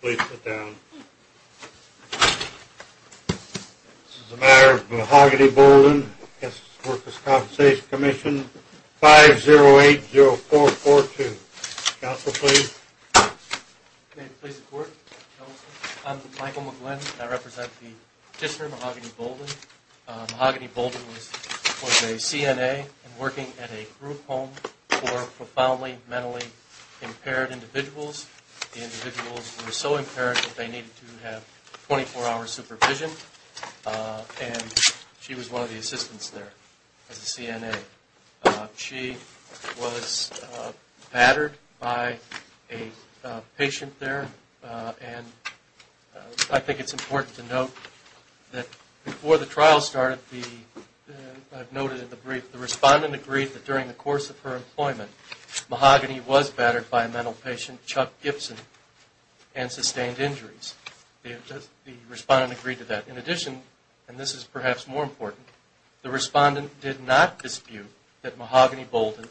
Please sit down. This is a matter of Mahogany Bolden v. The Workers' Compensation Commission, 5080442. Counsel, please. May it please the Court. I'm Michael McGlynn, and I represent the district of Mahogany Bolden. Mahogany Bolden was a CNA and working at a group home for profoundly mentally impaired individuals. The individuals were so impaired that they needed to have 24-hour supervision, and she was one of the assistants there as a CNA. She was battered by a patient there, and I think it's important to note that before the trial started, I've noted in the brief, the respondent agreed that during the course of her employment, Mahogany was battered by a mental patient, Chuck Gibson, and sustained injuries. The respondent agreed to that. In addition, and this is perhaps more important, the respondent did not dispute that Mahogany Bolden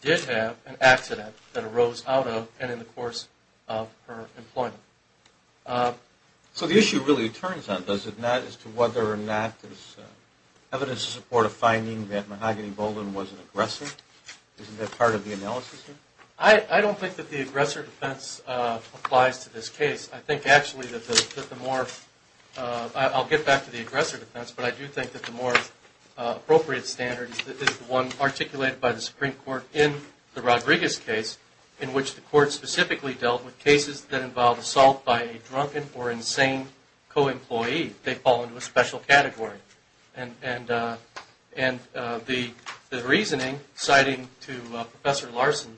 did have an accident that arose out of and in the course of her employment. So the issue really turns on, does it not, as to whether or not there's evidence to support a finding that Mahogany Bolden was an aggressor? Isn't that part of the analysis here? I don't think that the aggressor defense applies to this case. I think actually that the more, I'll get back to the aggressor defense, but I do think that the more appropriate standard is the one articulated by the Supreme Court in the Rodriguez case, in which the court specifically dealt with cases that involved assault by a drunken or insane co-employee. They fall into a special category. And the reasoning, citing to Professor Larson,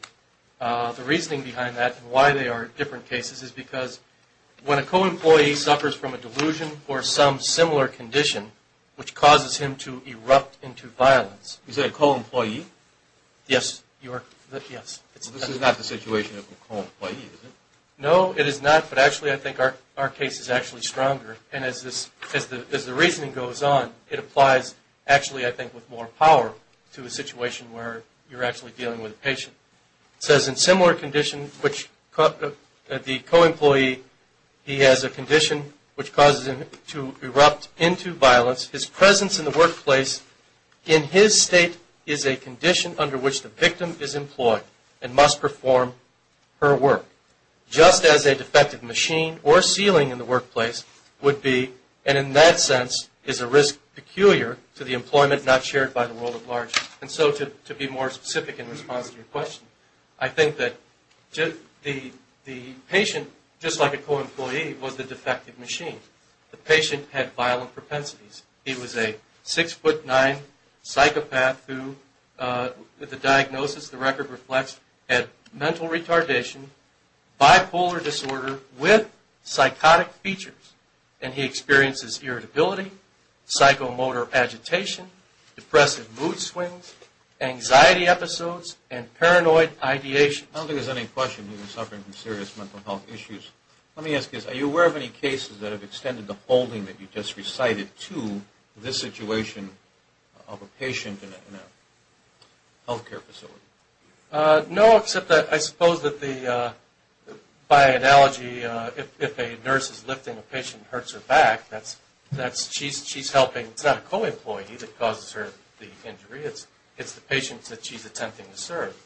the reasoning behind that and why they are different cases is because when a co-employee suffers from a delusion or some similar condition, which causes him to erupt into violence. Is that a co-employee? Yes. This is not the situation of a co-employee, is it? No, it is not, but actually I think our case is actually stronger. And as the reasoning goes on, it applies actually I think with more power to a situation where you're actually dealing with a patient. It says in similar condition, the co-employee, he has a condition which causes him to erupt into violence. His presence in the workplace, in his state, is a condition under which the victim is employed and must perform her work. Just as a defective machine or ceiling in the workplace would be, and in that sense is a risk peculiar to the employment not shared by the world at large. And so to be more specific in response to your question, I think that the patient, just like a co-employee, was the defective machine. The patient had violent propensities. He was a 6'9 psychopath who, with the diagnosis the record reflects, had mental retardation, bipolar disorder with psychotic features. And he experiences irritability, psychomotor agitation, depressive mood swings, anxiety episodes, and paranoid ideation. I don't think there's any question he was suffering from serious mental health issues. Let me ask you this. Are you aware of any cases that have extended the holding that you just recited to this situation of a patient in a healthcare facility? No, except I suppose that by analogy, if a nurse is lifting a patient and hurts her back, she's helping. It's not a co-employee that causes her the injury. It's the patient that she's attempting to serve.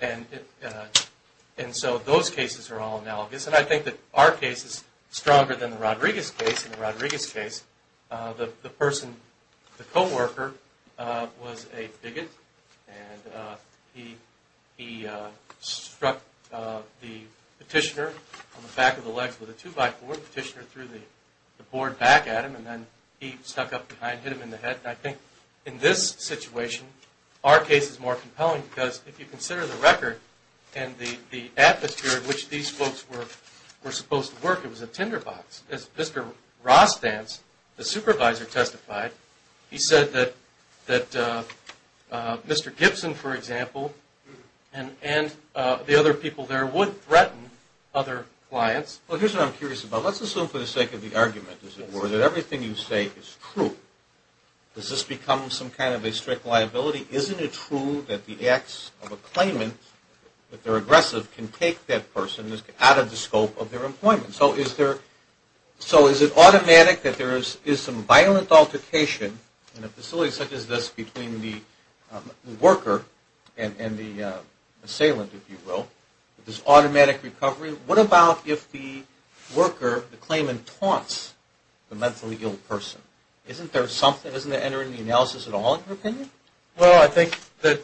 And so those cases are all analogous. And I think that our case is stronger than the Rodriguez case. In the Rodriguez case, the person, the co-worker, was a bigot. And he struck the petitioner on the back of the legs with a two-by-four. The petitioner threw the board back at him. And then he stuck up behind, hit him in the head. And I think in this situation, our case is more compelling because if you consider the record and the atmosphere in which these folks were supposed to work, it was a tinderbox. As Mr. Rostanz, the supervisor, testified, he said that Mr. Gibson, for example, and the other people there would threaten other clients. Well, here's what I'm curious about. Let's assume for the sake of the argument, as it were, that everything you say is true. Does this become some kind of a strict liability? Isn't it true that the acts of a claimant, if they're aggressive, can take that person out of the scope of their employment? So is it automatic that there is some violent altercation in a facility such as this between the worker and the assailant, if you will, with this automatic recovery? What about if the worker, the claimant, taunts the mentally ill person? Isn't there something? Isn't that entering the analysis at all, in your opinion? Well, I think that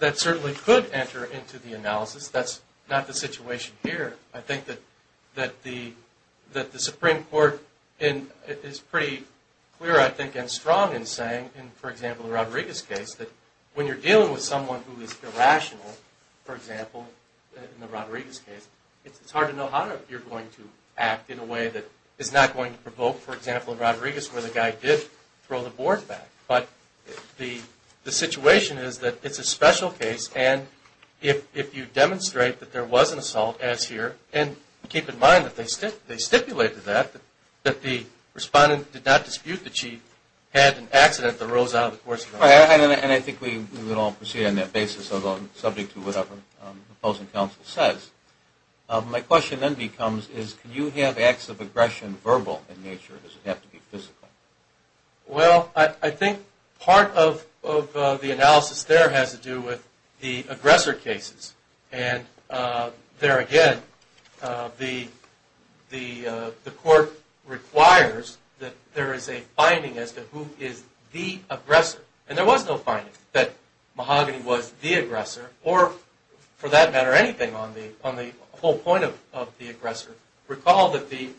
that certainly could enter into the analysis. That's not the situation here. I think that the Supreme Court is pretty clear, I think, and strong in saying, in, for example, the Rodriguez case, that when you're dealing with someone who is irrational, for example, in the Rodriguez case, it's hard to know how you're going to act in a way that is not going to provoke, for example, in Rodriguez, where the guy did throw the board back. But the situation is that it's a special case, and if you demonstrate that there was an assault, as here, and keep in mind that they stipulated that, that the respondent did not dispute that she had an accident that arose out of the course of the assault. All right. And I think we would all proceed on that basis, although subject to whatever opposing counsel says. My question then becomes, is can you have acts of aggression verbal in nature? Does it have to be physical? Well, I think part of the analysis there has to do with the aggressor cases. And there again, the court requires that there is a finding as to who is the aggressor. And there was no finding that Mahogany was the aggressor or, for that matter, anything on the whole point of the aggressor. Recall that the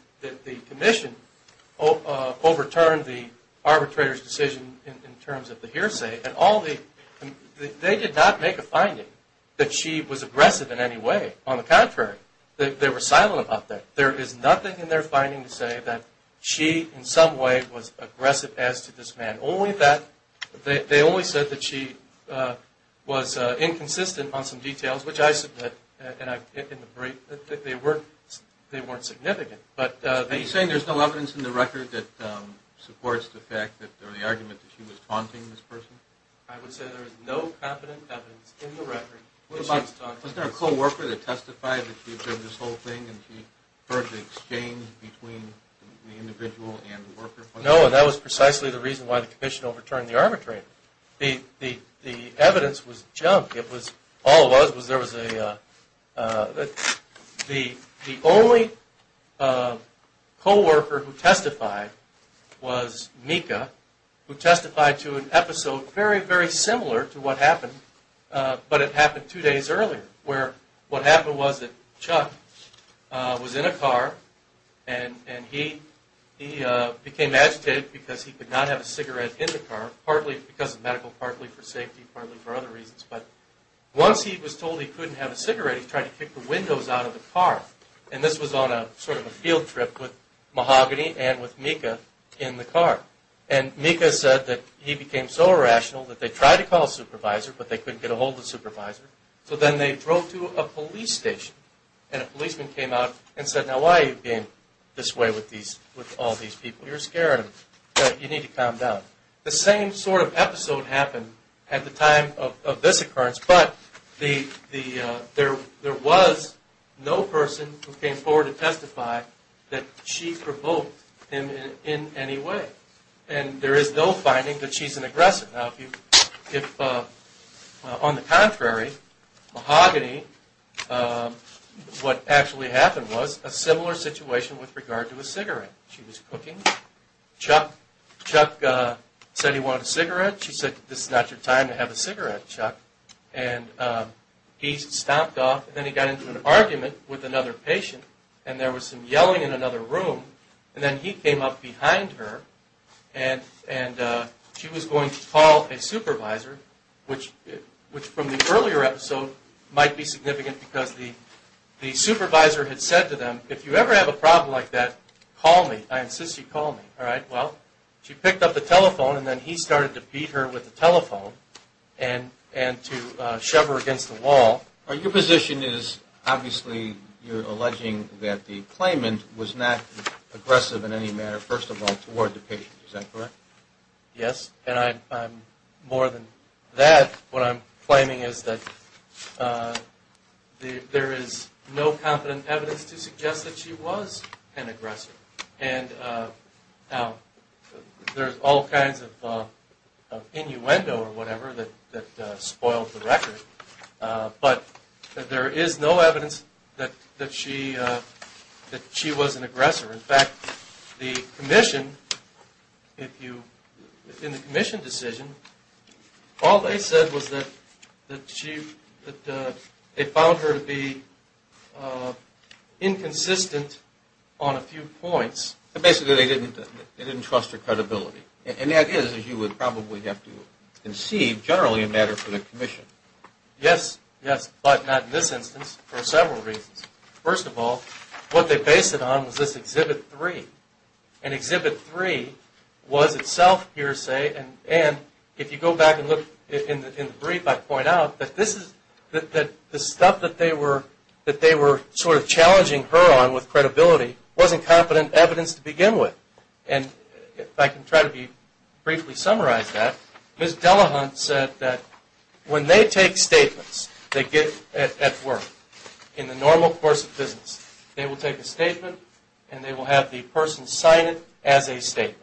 commission overturned the arbitrator's decision in terms of the hearsay, and they did not make a finding that she was aggressive in any way. On the contrary, they were silent about that. There is nothing in their finding to say that she, in some way, was aggressive as to this man. Only that they only said that she was inconsistent on some details, which I submit, and I get in the brief, that they weren't significant. Are you saying there is no evidence in the record that supports the fact or the argument that she was taunting this person? I would say there is no competent evidence in the record that she was taunting this person. Was there a co-worker that testified that she observed this whole thing and she heard the exchange between the individual and the worker? No, and that was precisely the reason why the commission overturned the arbitrator. The evidence was junk. The only co-worker who testified was Mika, who testified to an episode very, very similar to what happened, but it happened two days earlier, where what happened was that Chuck was in a car, and he became agitated because he could not have a cigarette in the car, partly because of medical, partly for safety, partly for other reasons, but once he was told he couldn't have a cigarette, he tried to kick the windows out of the car. And this was on a sort of a field trip with Mahogany and with Mika in the car. And Mika said that he became so irrational that they tried to call a supervisor, but they couldn't get a hold of the supervisor. So then they drove to a police station, and a policeman came out and said, now why are you being this way with all these people? You're scaring them. You need to calm down. The same sort of episode happened at the time of this occurrence, but there was no person who came forward to testify that she provoked him in any way. And there is no finding that she's an aggressor. Now if, on the contrary, Mahogany, what actually happened was a similar situation with regard to a cigarette. She was cooking. Chuck said he wanted a cigarette. She said, this is not your time to have a cigarette, Chuck. And he stomped off, and then he got into an argument with another patient, and there was some yelling in another room. And then he came up behind her, and she was going to call a supervisor, which from the earlier episode might be significant because the supervisor had said to them, if you ever have a problem like that, call me. I insist you call me. Well, she picked up the telephone, and then he started to beat her with the telephone and to shove her against the wall. Your position is, obviously, you're alleging that the claimant was not aggressive in any manner, first of all, toward the patient. Is that correct? Yes, and I'm more than that. What I'm claiming is that there is no competent evidence to suggest that she was an aggressor. And there's all kinds of innuendo or whatever that spoils the record, but there is no evidence that she was an aggressor. In fact, the commission, in the commission decision, all they said was that they found her to be inconsistent on a few points. Basically, they didn't trust her credibility. And that is, as you would probably have to conceive, generally a matter for the commission. Yes, yes, but not in this instance for several reasons. First of all, what they based it on was this Exhibit 3. And Exhibit 3 was itself hearsay, and if you go back and look in the brief, I point out that the stuff that they were sort of challenging her on with credibility wasn't competent evidence to begin with. And if I can try to briefly summarize that, Ms. Delahunt said that when they take statements at work, in the normal course of business, they will take a statement and they will have the person sign it as a statement.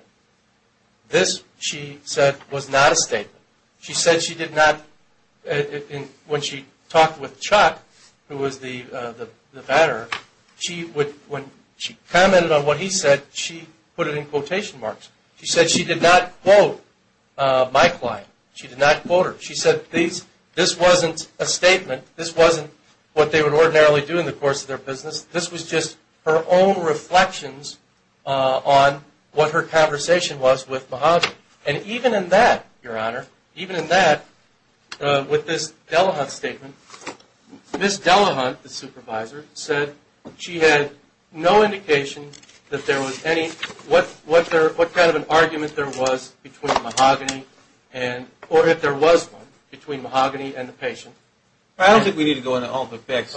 This, she said, was not a statement. She said she did not, when she talked with Chuck, who was the batterer, when she commented on what he said, she put it in quotation marks. She said she did not quote my client. She did not quote her. She said this wasn't a statement. This wasn't what they would ordinarily do in the course of their business. This was just her own reflections on what her conversation was with Mahajan. And even in that, Your Honor, even in that, with this Delahunt statement, Ms. Delahunt, the supervisor, said she had no indication that there was any, what kind of an argument there was between Mahajan, or if there was one, between Mahajan and the patient. I don't think we need to go into all the facts.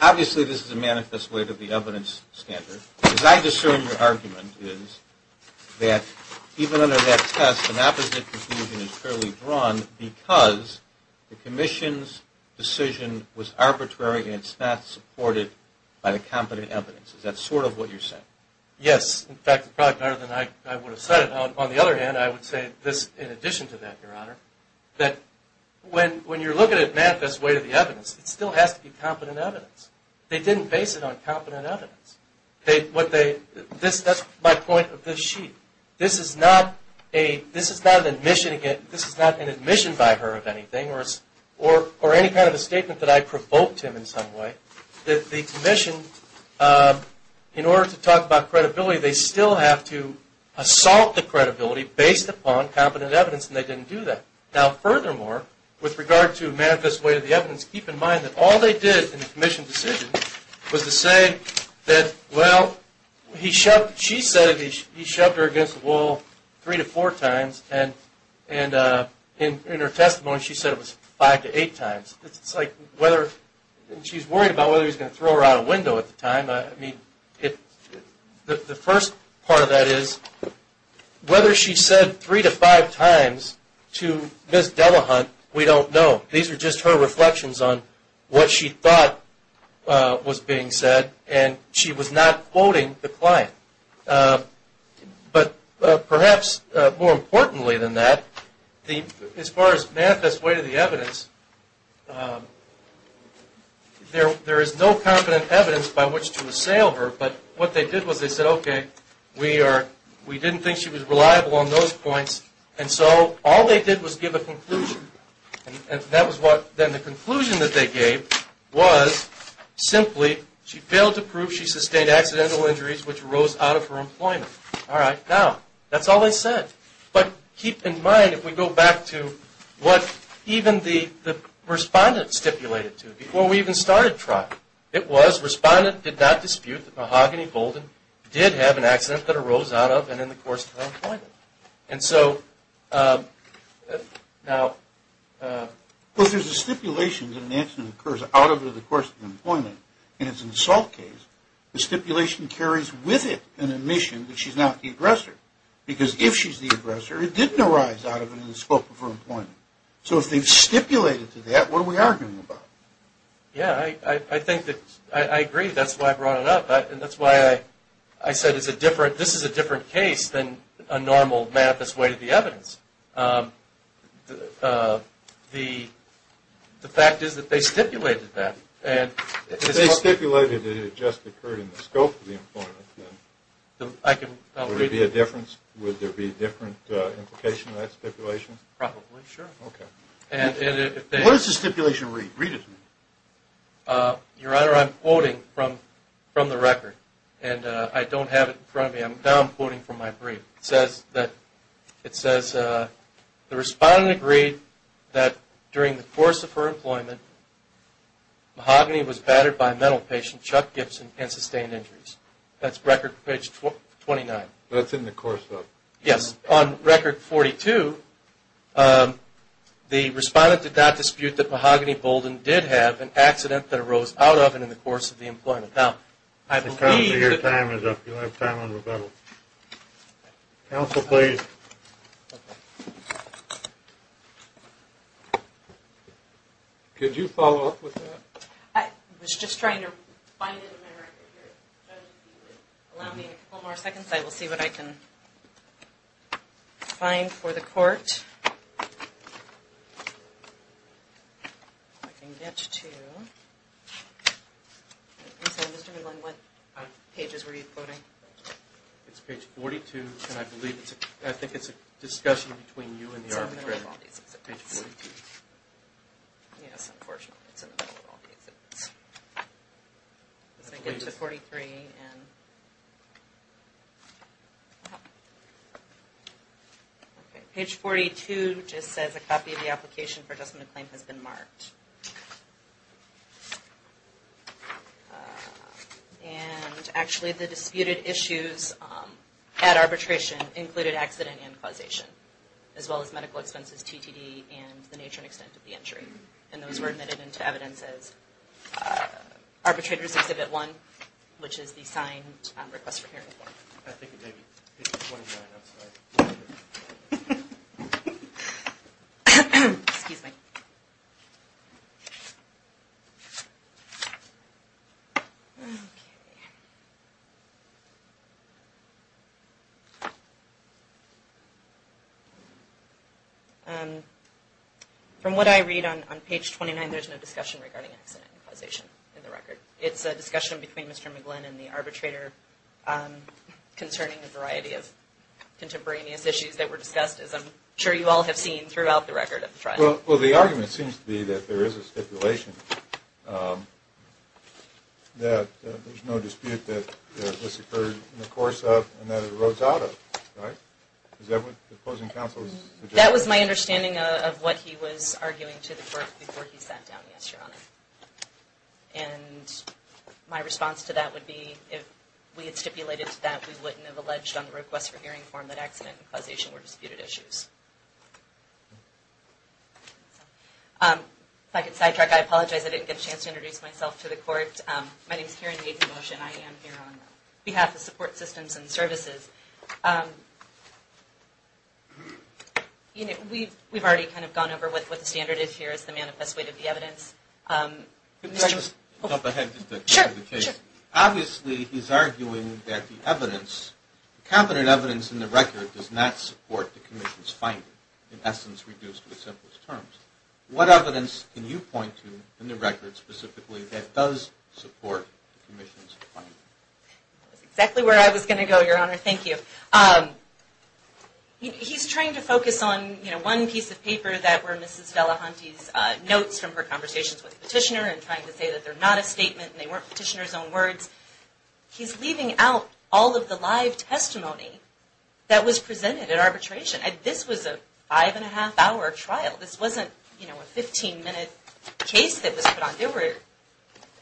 Obviously, this is a manifest way to the evidence standard. As I discern your argument is that even under that test, an opposite conclusion is clearly drawn because the commission's decision was arbitrary and it's not supported by the competent evidence. Is that sort of what you're saying? Yes. In fact, it's probably better than I would have said it. On the other hand, I would say this in addition to that, Your Honor, that when you're looking at a manifest way to the evidence, it still has to be competent evidence. They didn't base it on competent evidence. That's my point of this sheet. This is not an admission by her of anything or any kind of a statement that I provoked him in some way. The commission, in order to talk about credibility, they still have to assault the credibility based upon competent evidence, and they didn't do that. Now, furthermore, with regard to manifest way to the evidence, keep in mind that all they did in the commission's decision was to say that, well, she said he shoved her against the wall three to four times, and in her testimony she said it was five to eight times. She's worried about whether he's going to throw her out a window at the time. The first part of that is whether she said three to five times to Ms. Delahunt, we don't know. These are just her reflections on what she thought was being said, and she was not quoting the client. But perhaps more importantly than that, as far as manifest way to the evidence, there is no competent evidence by which to assail her, but what they did was they said, okay, we didn't think she was reliable on those points, and so all they did was give a conclusion, and that was what then the conclusion that they gave was simply, she failed to prove she sustained accidental injuries which arose out of her employment. All right, now, that's all they said. But keep in mind, if we go back to what even the respondent stipulated to, before we even started trial, it was respondent did not dispute that Mahogany Bolden did have an accident that arose out of and in the course of her employment. And so, now. Well, there's a stipulation that an accident occurs out over the course of employment, and it's an assault case. The stipulation carries with it an admission that she's not the aggressor, because if she's the aggressor, it didn't arise out of and in the scope of her employment. So if they've stipulated to that, what are we arguing about? Yeah, I agree. That's why I brought it up, and that's why I said this is a different case than a normal manifest way to the evidence. The fact is that they stipulated that. If they stipulated that it just occurred in the scope of the employment, would there be a difference? Would there be a different implication in that stipulation? Probably, sure. Okay. What does the stipulation read? Read it to me. Your Honor, I'm quoting from the record, and I don't have it in front of me. Now I'm quoting from my brief. It says, the respondent agreed that during the course of her employment, mahogany was battered by a mental patient, Chuck Gibson, and sustained injuries. That's record page 29. That's in the course of. Yes. On record 42, the respondent did not dispute that mahogany boldened did have an accident that arose out of and in the course of the employment. Now, I believe that. Your time is up. You don't have time on rebuttal. Counsel, please. Okay. Could you follow up with that? I was just trying to find it in my record here. Allow me a couple more seconds. I will see what I can find for the court. I can get to. Mr. Midland, what pages were you quoting? It's page 42, and I think it's a discussion between you and the arbitrator. It's in the middle of all these exhibits. Page 42. Yes, unfortunately, it's in the middle of all these exhibits. Let's make it to 43. Page 42 just says, a copy of the application for adjustment of claim has been marked. And actually, the disputed issues at arbitration included accident and causation, as well as medical expenses, TTD, and the nature and extent of the injury. And those were admitted into evidence as arbitrators exhibit one, which is the signed request for hearing form. I think it may be page 29. I'm sorry. Excuse me. Okay. From what I read on page 29, there's no discussion regarding accident and causation in the record. It's a discussion between Mr. Midland and the arbitrator concerning a variety of contemporaneous issues that were discussed, as I'm sure you all have seen, throughout the record of the trial. Well, the argument seems to be that there is a stipulation that there's no dispute that this occurred in the course of and that it arose out of, right? Is that what the opposing counsel is suggesting? That was my understanding of what he was arguing to the court before he sat down, yes, Your Honor. And my response to that would be, if we had stipulated to that, we wouldn't have alleged on the request for hearing form that accident and causation were disputed issues. If I could sidetrack, I apologize. I didn't get a chance to introduce myself to the court. My name is Karen Yates-Mosh, and I am here on behalf of Support Systems and Services. We've already kind of gone over what the standard is here as the manifest way to the evidence. Could I just jump ahead just to the case? Sure, sure. Obviously, he's arguing that the evidence, the competent evidence in the record does not support the commission's finding, in essence reduced to the simplest terms. What evidence can you point to in the record specifically that does support the commission's finding? That's exactly where I was going to go, Your Honor. Thank you. He's trying to focus on, you know, one piece of paper that were Mrs. Delahunty's notes from her conversations with the petitioner and trying to say that they're not a statement and they weren't petitioner's own words. He's leaving out all of the live testimony that was presented at arbitration. This was a five-and-a-half-hour trial. This wasn't, you know, a 15-minute case that was put on. There were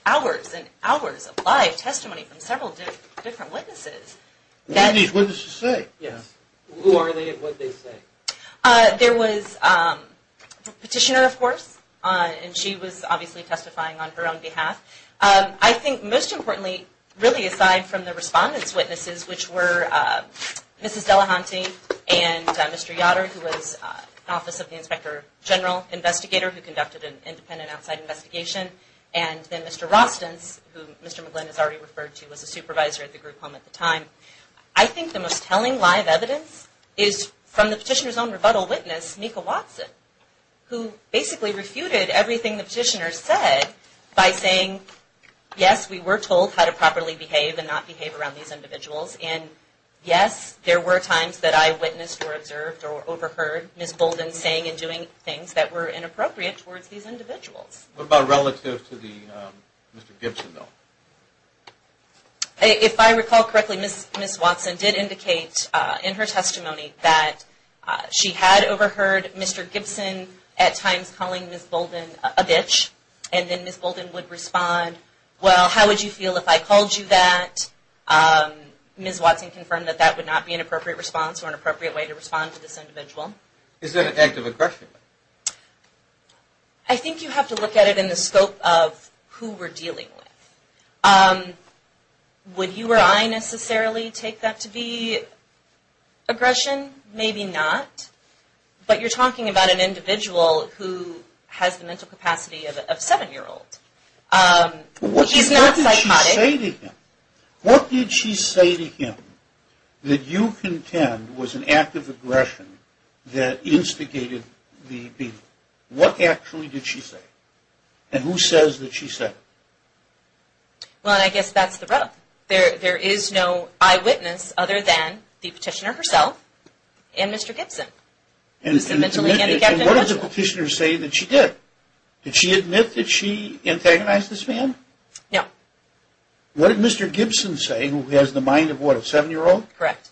hours and hours of live testimony from several different witnesses. What did these witnesses say? Who are they and what did they say? There was a petitioner, of course, and she was obviously testifying on her own behalf. I think most importantly, really aside from the respondents' witnesses, which were Mrs. Delahunty and Mr. Yodder, who was Office of the Inspector General Investigator who conducted an independent outside investigation, and then Mr. Rostens, who Mr. McGlynn has already referred to as a supervisor at the group home at the time. I think the most telling live evidence is from the petitioner's own rebuttal witness, Mika Watson, who basically refuted everything the petitioner said by saying, yes, we were told how to properly behave and not behave around these individuals, and yes, there were times that I witnessed or observed or overheard Ms. Bolden saying and doing things that were inappropriate towards these individuals. What about relative to Mr. Gibson, though? If I recall correctly, Ms. Watson did indicate in her testimony that she had overheard Mr. Gibson at times calling Ms. Bolden a bitch, and then Ms. Bolden would respond, well, how would you feel if I called you that? Ms. Watson confirmed that that would not be an appropriate response or an appropriate way to respond to this individual. Is that an act of aggression? I think you have to look at it in the scope of who we're dealing with. Would you or I necessarily take that to be aggression? Maybe not. But you're talking about an individual who has the mental capacity of a seven-year-old. He's not psychotic. What did she say to him that you contend was an act of aggression that instigated the beating? What actually did she say? And who says that she said it? Well, I guess that's the rub. There is no eyewitness other than the petitioner herself and Mr. Gibson. And what did the petitioner say that she did? Did she admit that she antagonized this man? No. What did Mr. Gibson say, who has the mind of what, a seven-year-old? Correct.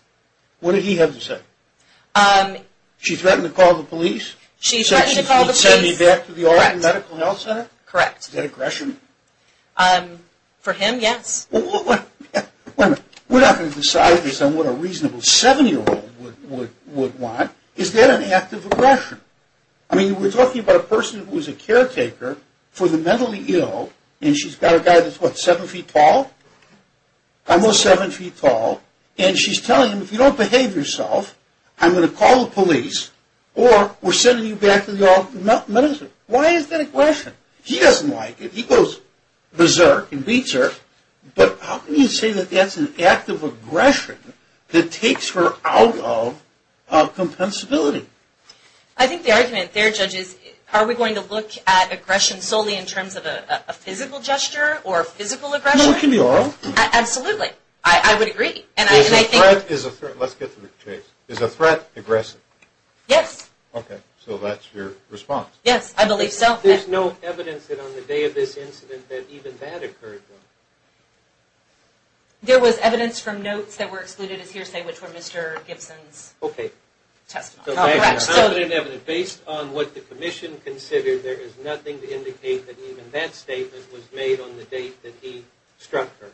What did he have to say? She threatened to call the police? She threatened to call the police. Said she'd send me back to the Oregon Medical Health Center? Correct. Is that aggression? For him, yes. Wait a minute. We're not going to decide this on what a reasonable seven-year-old would want. Is that an act of aggression? I mean, we're talking about a person who is a caretaker for the mentally ill, and she's got a guy that's, what, seven feet tall? Almost seven feet tall. And she's telling him, if you don't behave yourself, I'm going to call the police. Or we're sending you back to the Oregon Medical Health Center. Why is that aggression? He doesn't like it. He goes berserk and beats her. But how can you say that that's an act of aggression that takes her out of compensability? I think the argument there, Judge, is are we going to look at aggression solely in terms of a physical gesture or physical aggression? No, it can be oral. Absolutely. I would agree. Is a threat aggressive? Yes. Okay. So that's your response. Yes, I believe so. There's no evidence that on the day of this incident that even that occurred. There was evidence from notes that were excluded as hearsay, which were Mr. Gibson's testimony. Okay. Based on what the commission considered, there is nothing to indicate that even that statement was made on the date that he struck her.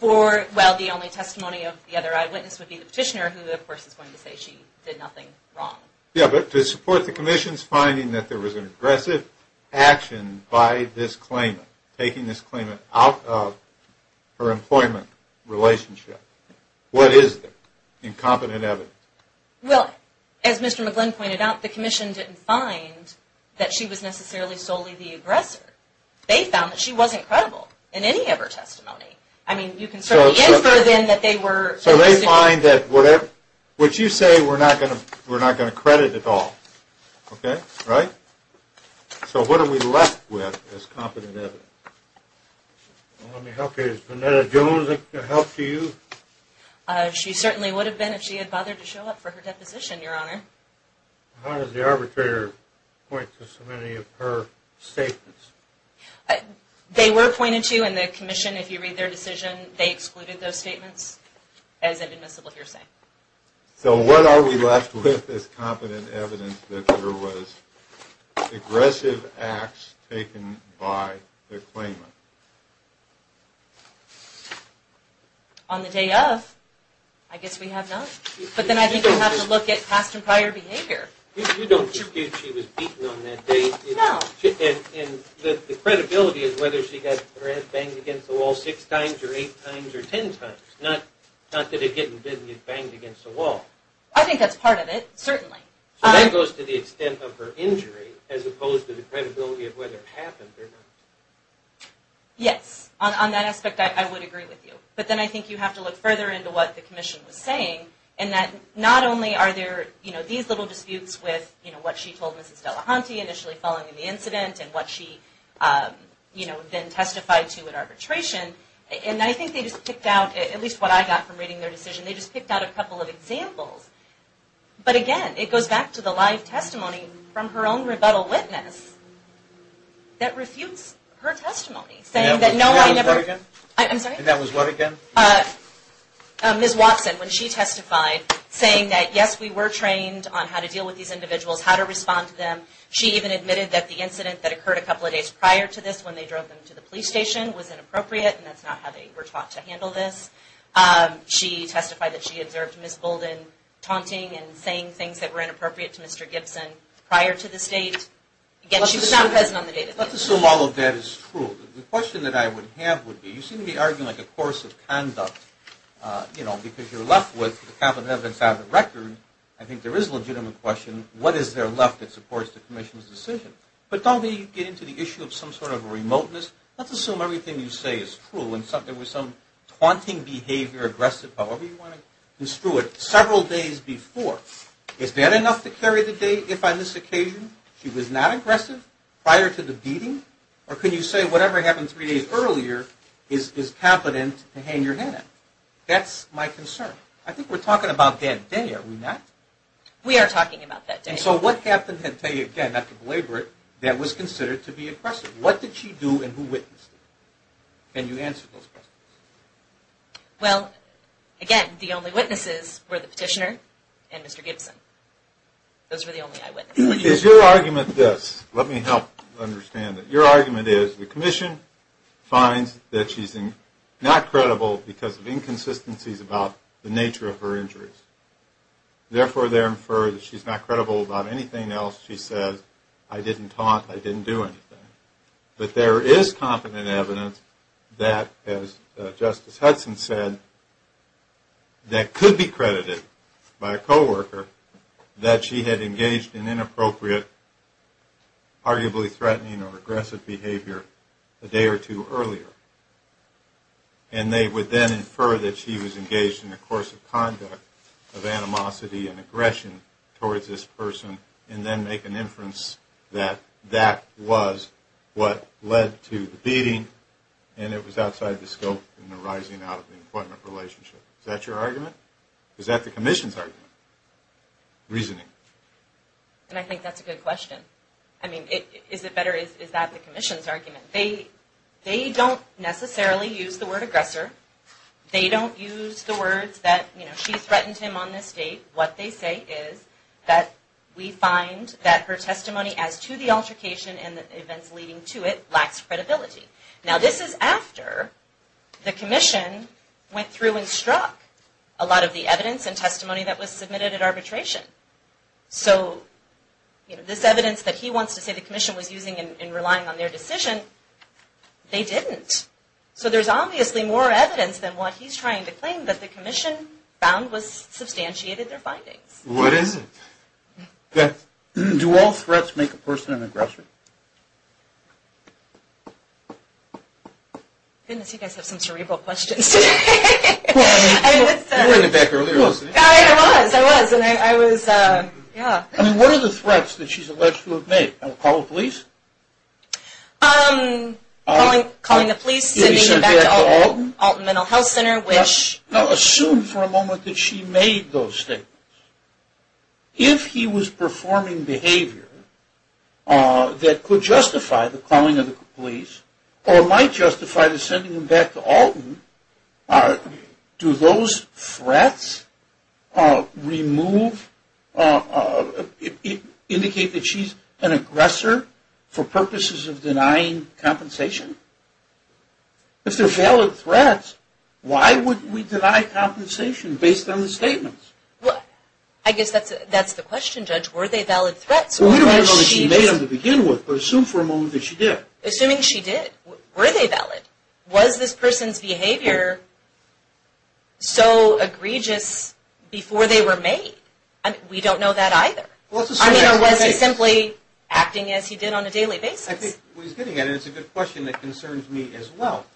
Well, the only testimony of the other eyewitness would be the petitioner, who, of course, is going to say she did nothing wrong. Yes, but to support the commission's finding that there was an aggressive action by this claimant, taking this claimant out of her employment relationship, what is the incompetent evidence? Well, as Mr. McGlynn pointed out, the commission didn't find that she was necessarily solely the aggressor. They found that she wasn't credible in any of her testimony. I mean, you can certainly answer then that they were. So they find that what you say we're not going to credit at all. Okay? Right? So what are we left with as competent evidence? Let me help you. Is Venetta Jones a help to you? She certainly would have been if she had bothered to show up for her deposition, Your Honor. How does the arbitrator point to so many of her statements? They were pointed to in the commission. If you read their decision, they excluded those statements as an admissible hearsay. So what are we left with as competent evidence that there was aggressive acts taken by the claimant? On the day of, I guess we have none. But then I think we have to look at past and prior behavior. You don't think she was beaten on that day. No. The credibility is whether she got her head banged against the wall six times or eight times or ten times. Not that it didn't get banged against the wall. I think that's part of it, certainly. So that goes to the extent of her injury as opposed to the credibility of whether it happened or not. Yes. On that aspect, I would agree with you. But then I think you have to look further into what the commission was saying in that not only are there these little disputes with what she told Mrs. Delahunty initially following the incident and what she then testified to in arbitration, and I think they just picked out, at least what I got from reading their decision, they just picked out a couple of examples. But, again, it goes back to the live testimony from her own rebuttal witness that refutes her testimony, saying that no one ever – And that was what again? I'm sorry? Ms. Watson, when she testified, saying that, yes, we were trained on how to deal with these individuals, how to respond to them. She even admitted that the incident that occurred a couple of days prior to this when they drove them to the police station was inappropriate, and that's not how they were taught to handle this. She testified that she observed Ms. Bolden taunting and saying things that were inappropriate to Mr. Gibson prior to this date. Again, she was not present on the day that this happened. Let's assume all of that is true. The question that I would have would be, you seem to be arguing like a course of conduct, you know, because you're left with the competence out of the record. I think there is a legitimate question, what is there left that supports the commission's decision? But don't we get into the issue of some sort of remoteness? Let's assume everything you say is true and there was some taunting behavior, aggressive, however you want to construe it, several days before. Is that enough to carry the date if on this occasion she was not aggressive prior to the beating? Or can you say whatever happened three days earlier is competent to hang your head in? That's my concern. I think we're talking about that day, are we not? We are talking about that day. And so what happened that day, again, not to belabor it, that was considered to be aggressive? What did she do and who witnessed it? Can you answer those questions? Well, again, the only witnesses were the petitioner and Mr. Gibson. Those were the only eyewitnesses. Is your argument this? Let me help understand it. Your argument is the commission finds that she's not credible because of inconsistencies about the nature of her injuries. Therefore, they infer that she's not credible about anything else she says, I didn't taunt, I didn't do anything. But there is competent evidence that, as Justice Hudson said, that could be credited by a coworker that she had engaged in inappropriate, arguably threatening or aggressive behavior a day or two earlier. And they would then infer that she was engaged in a course of conduct of animosity and aggression towards this person and then make an inference that that was what led to the beating and it was outside the scope and the rising out of the employment relationship. Is that your argument? Is that the commission's argument, reasoning? And I think that's a good question. I mean, is it better, is that the commission's argument? They don't necessarily use the word aggressor. They don't use the words that, you know, she threatened him on this date. What they say is that we find that her testimony as to the altercation and the events leading to it lacks credibility. Now, this is after the commission went through and struck a lot of the evidence. So this evidence that he wants to say the commission was using in relying on their decision, they didn't. So there's obviously more evidence than what he's trying to claim that the commission found was substantiated in their findings. What is it? Beth, do all threats make a person an aggressor? Goodness, you guys have some cerebral questions today. You were in the back earlier, wasn't you? I was, I was, and I was, yeah. I mean, what are the threats that she's alleged to have made? Calling the police? Calling the police, sending him back to Alton Mental Health Center. Now, assume for a moment that she made those statements. If he was performing behavior that could justify the calling of the police or might justify the sending him back to Alton, do those threats remove, indicate that she's an aggressor for purposes of denying compensation? If they're valid threats, why would we deny compensation based on the statements? Well, I guess that's the question, Judge. Were they valid threats? Well, we don't know that she made them to begin with, but assume for a moment that she did. Assuming she did, were they valid? Was this person's behavior so egregious before they were made? We don't know that either. I mean, or was he simply acting as he did on a daily basis? I think what he's getting at is a good question that concerns me as well.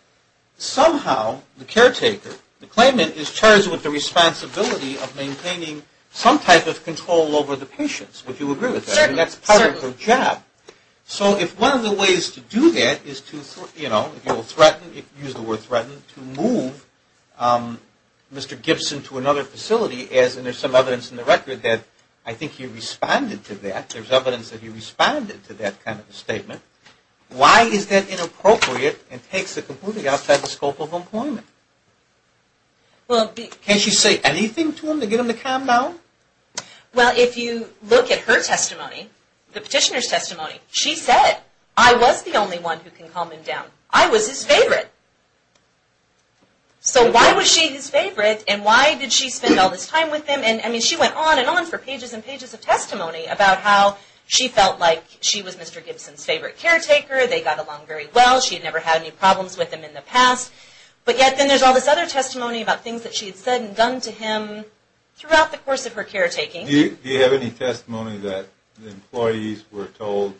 Somehow the caretaker, the claimant, is charged with the responsibility of maintaining some type of control over the patients, would you agree with that? Certainly. And that's part of her job. So if one of the ways to do that is to threaten, use the word threaten, to move Mr. Gibson to another facility, as in there's some evidence in the record that I think he responded to that, there's evidence that he responded to that kind of statement, why is that inappropriate and takes it completely outside the scope of employment? Can't she say anything to him to get him to calm down? Well, if you look at her testimony, the petitioner's testimony, she said, I was the only one who can calm him down. I was his favorite. So why was she his favorite and why did she spend all this time with him? I mean, she went on and on for pages and pages of testimony about how she felt like she was Mr. Gibson's favorite caretaker. They got along very well. She had never had any problems with him in the past. But yet then there's all this other testimony about things that she had said and done to him throughout the course of her caretaking. Do you have any testimony that the employees were told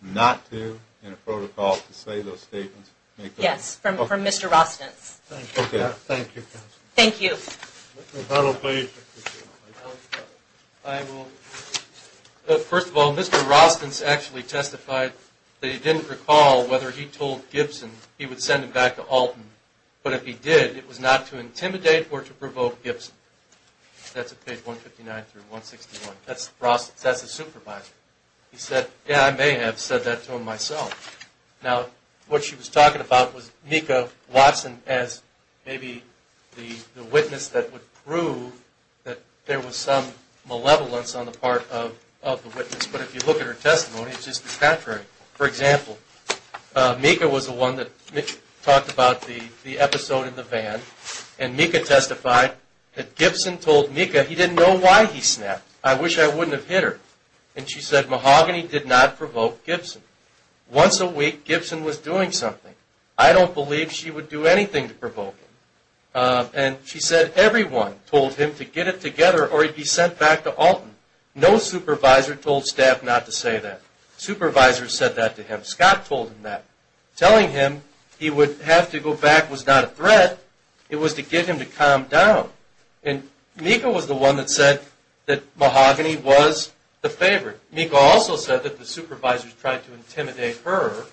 not to, in a protocol, to say those statements? Yes, from Mr. Rostens. Thank you. Thank you. First of all, Mr. Rostens actually testified that he didn't recall whether he told Gibson he would send him back to Alton. But if he did, it was not to intimidate or to provoke Gibson. That's at page 159 through 161. That's the supervisor. He said, yeah, I may have said that to him myself. Now, what she was talking about was Mika Watson as maybe the witness that would prove that there was some malevolence on the part of the witness. But if you look at her testimony, it's just the contrary. For example, Mika was the one that talked about the episode in the van, and Mika testified that Gibson told Mika he didn't know why he snapped. I wish I wouldn't have hit her. And she said mahogany did not provoke Gibson. Once a week, Gibson was doing something. I don't believe she would do anything to provoke him. And she said everyone told him to get it together or he'd be sent back to Alton. No supervisor told staff not to say that. Supervisors said that to him. Scott told him that. Telling him he would have to go back was not a threat. It was to get him to calm down. And Mika was the one that said that mahogany was the favorite. Mika also said that the supervisors tried to intimidate her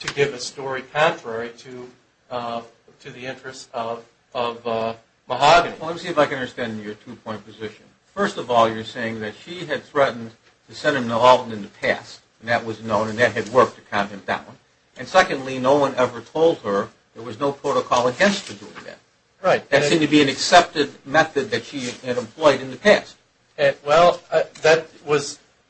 to give a story contrary to the interests of mahogany. Well, let me see if I can understand your two-point position. First of all, you're saying that she had threatened to send him to Alton in the past, and that was known and that had worked to calm him down. And secondly, no one ever told her there was no protocol against her doing that. Right. That seemed to be an accepted method that she had employed in the past. Well,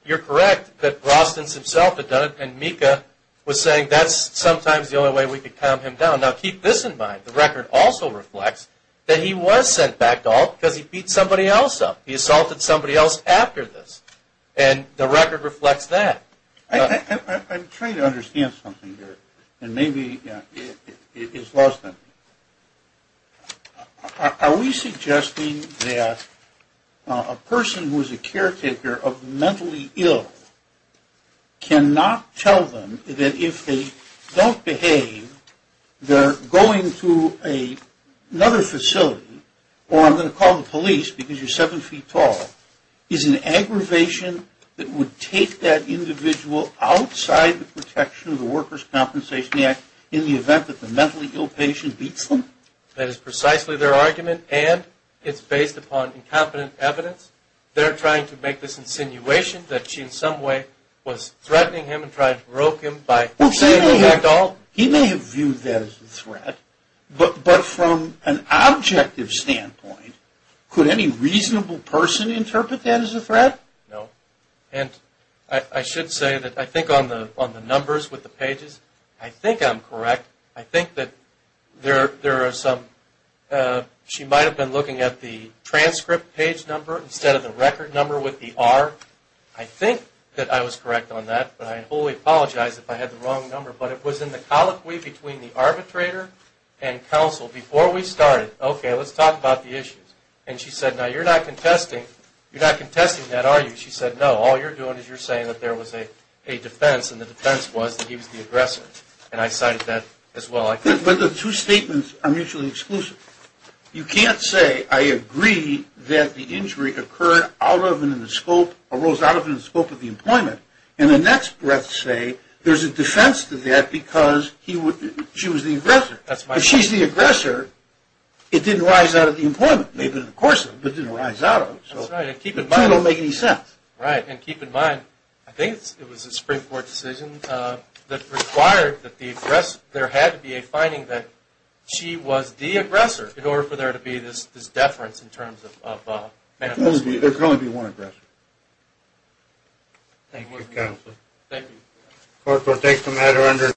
you're correct that Rostens himself had done it, and Mika was saying that's sometimes the only way we could calm him down. Now, keep this in mind. The record also reflects that he was sent back to Alton because he beat somebody else up. He assaulted somebody else after this, and the record reflects that. I'm trying to understand something here, and maybe it's lost on me. Are we suggesting that a person who is a caretaker of mentally ill cannot tell them that if they don't behave, they're going to another facility, or I'm going to call the police because you're seven feet tall, is an aggravation that would take that individual outside the protection of the Workers' Compensation Act in the event that the mentally ill patient beats them? That is precisely their argument, and it's based upon incompetent evidence. They're trying to make this insinuation that she in some way was threatening him and trying to broke him by sending him back to Alton. He may have viewed that as a threat, but from an objective standpoint, could any reasonable person interpret that as a threat? No, and I should say that I think on the numbers with the pages, I think I'm correct. I think that there are some, she might have been looking at the transcript page number instead of the record number with the R. I think that I was correct on that, but I wholly apologize if I had the wrong number, but it was in the colloquy between the arbitrator and counsel before we started. Okay, let's talk about the issues. And she said, now you're not contesting that, are you? She said, no, all you're doing is you're saying that there was a defense, and the defense was that he was the aggressor, and I cited that as well. But the two statements are mutually exclusive. You can't say, I agree that the injury arose out of and in the scope of the employment, and the next breath say there's a defense to that because she was the aggressor. If she's the aggressor, it didn't rise out of the employment, maybe in the course of it, but it didn't rise out of it, so it doesn't make any sense. Right, and keep in mind, I think it was a Supreme Court decision that required that the aggressor, there had to be a finding that she was the aggressor in order for there to be this deference There can only be one aggressor. Thank you.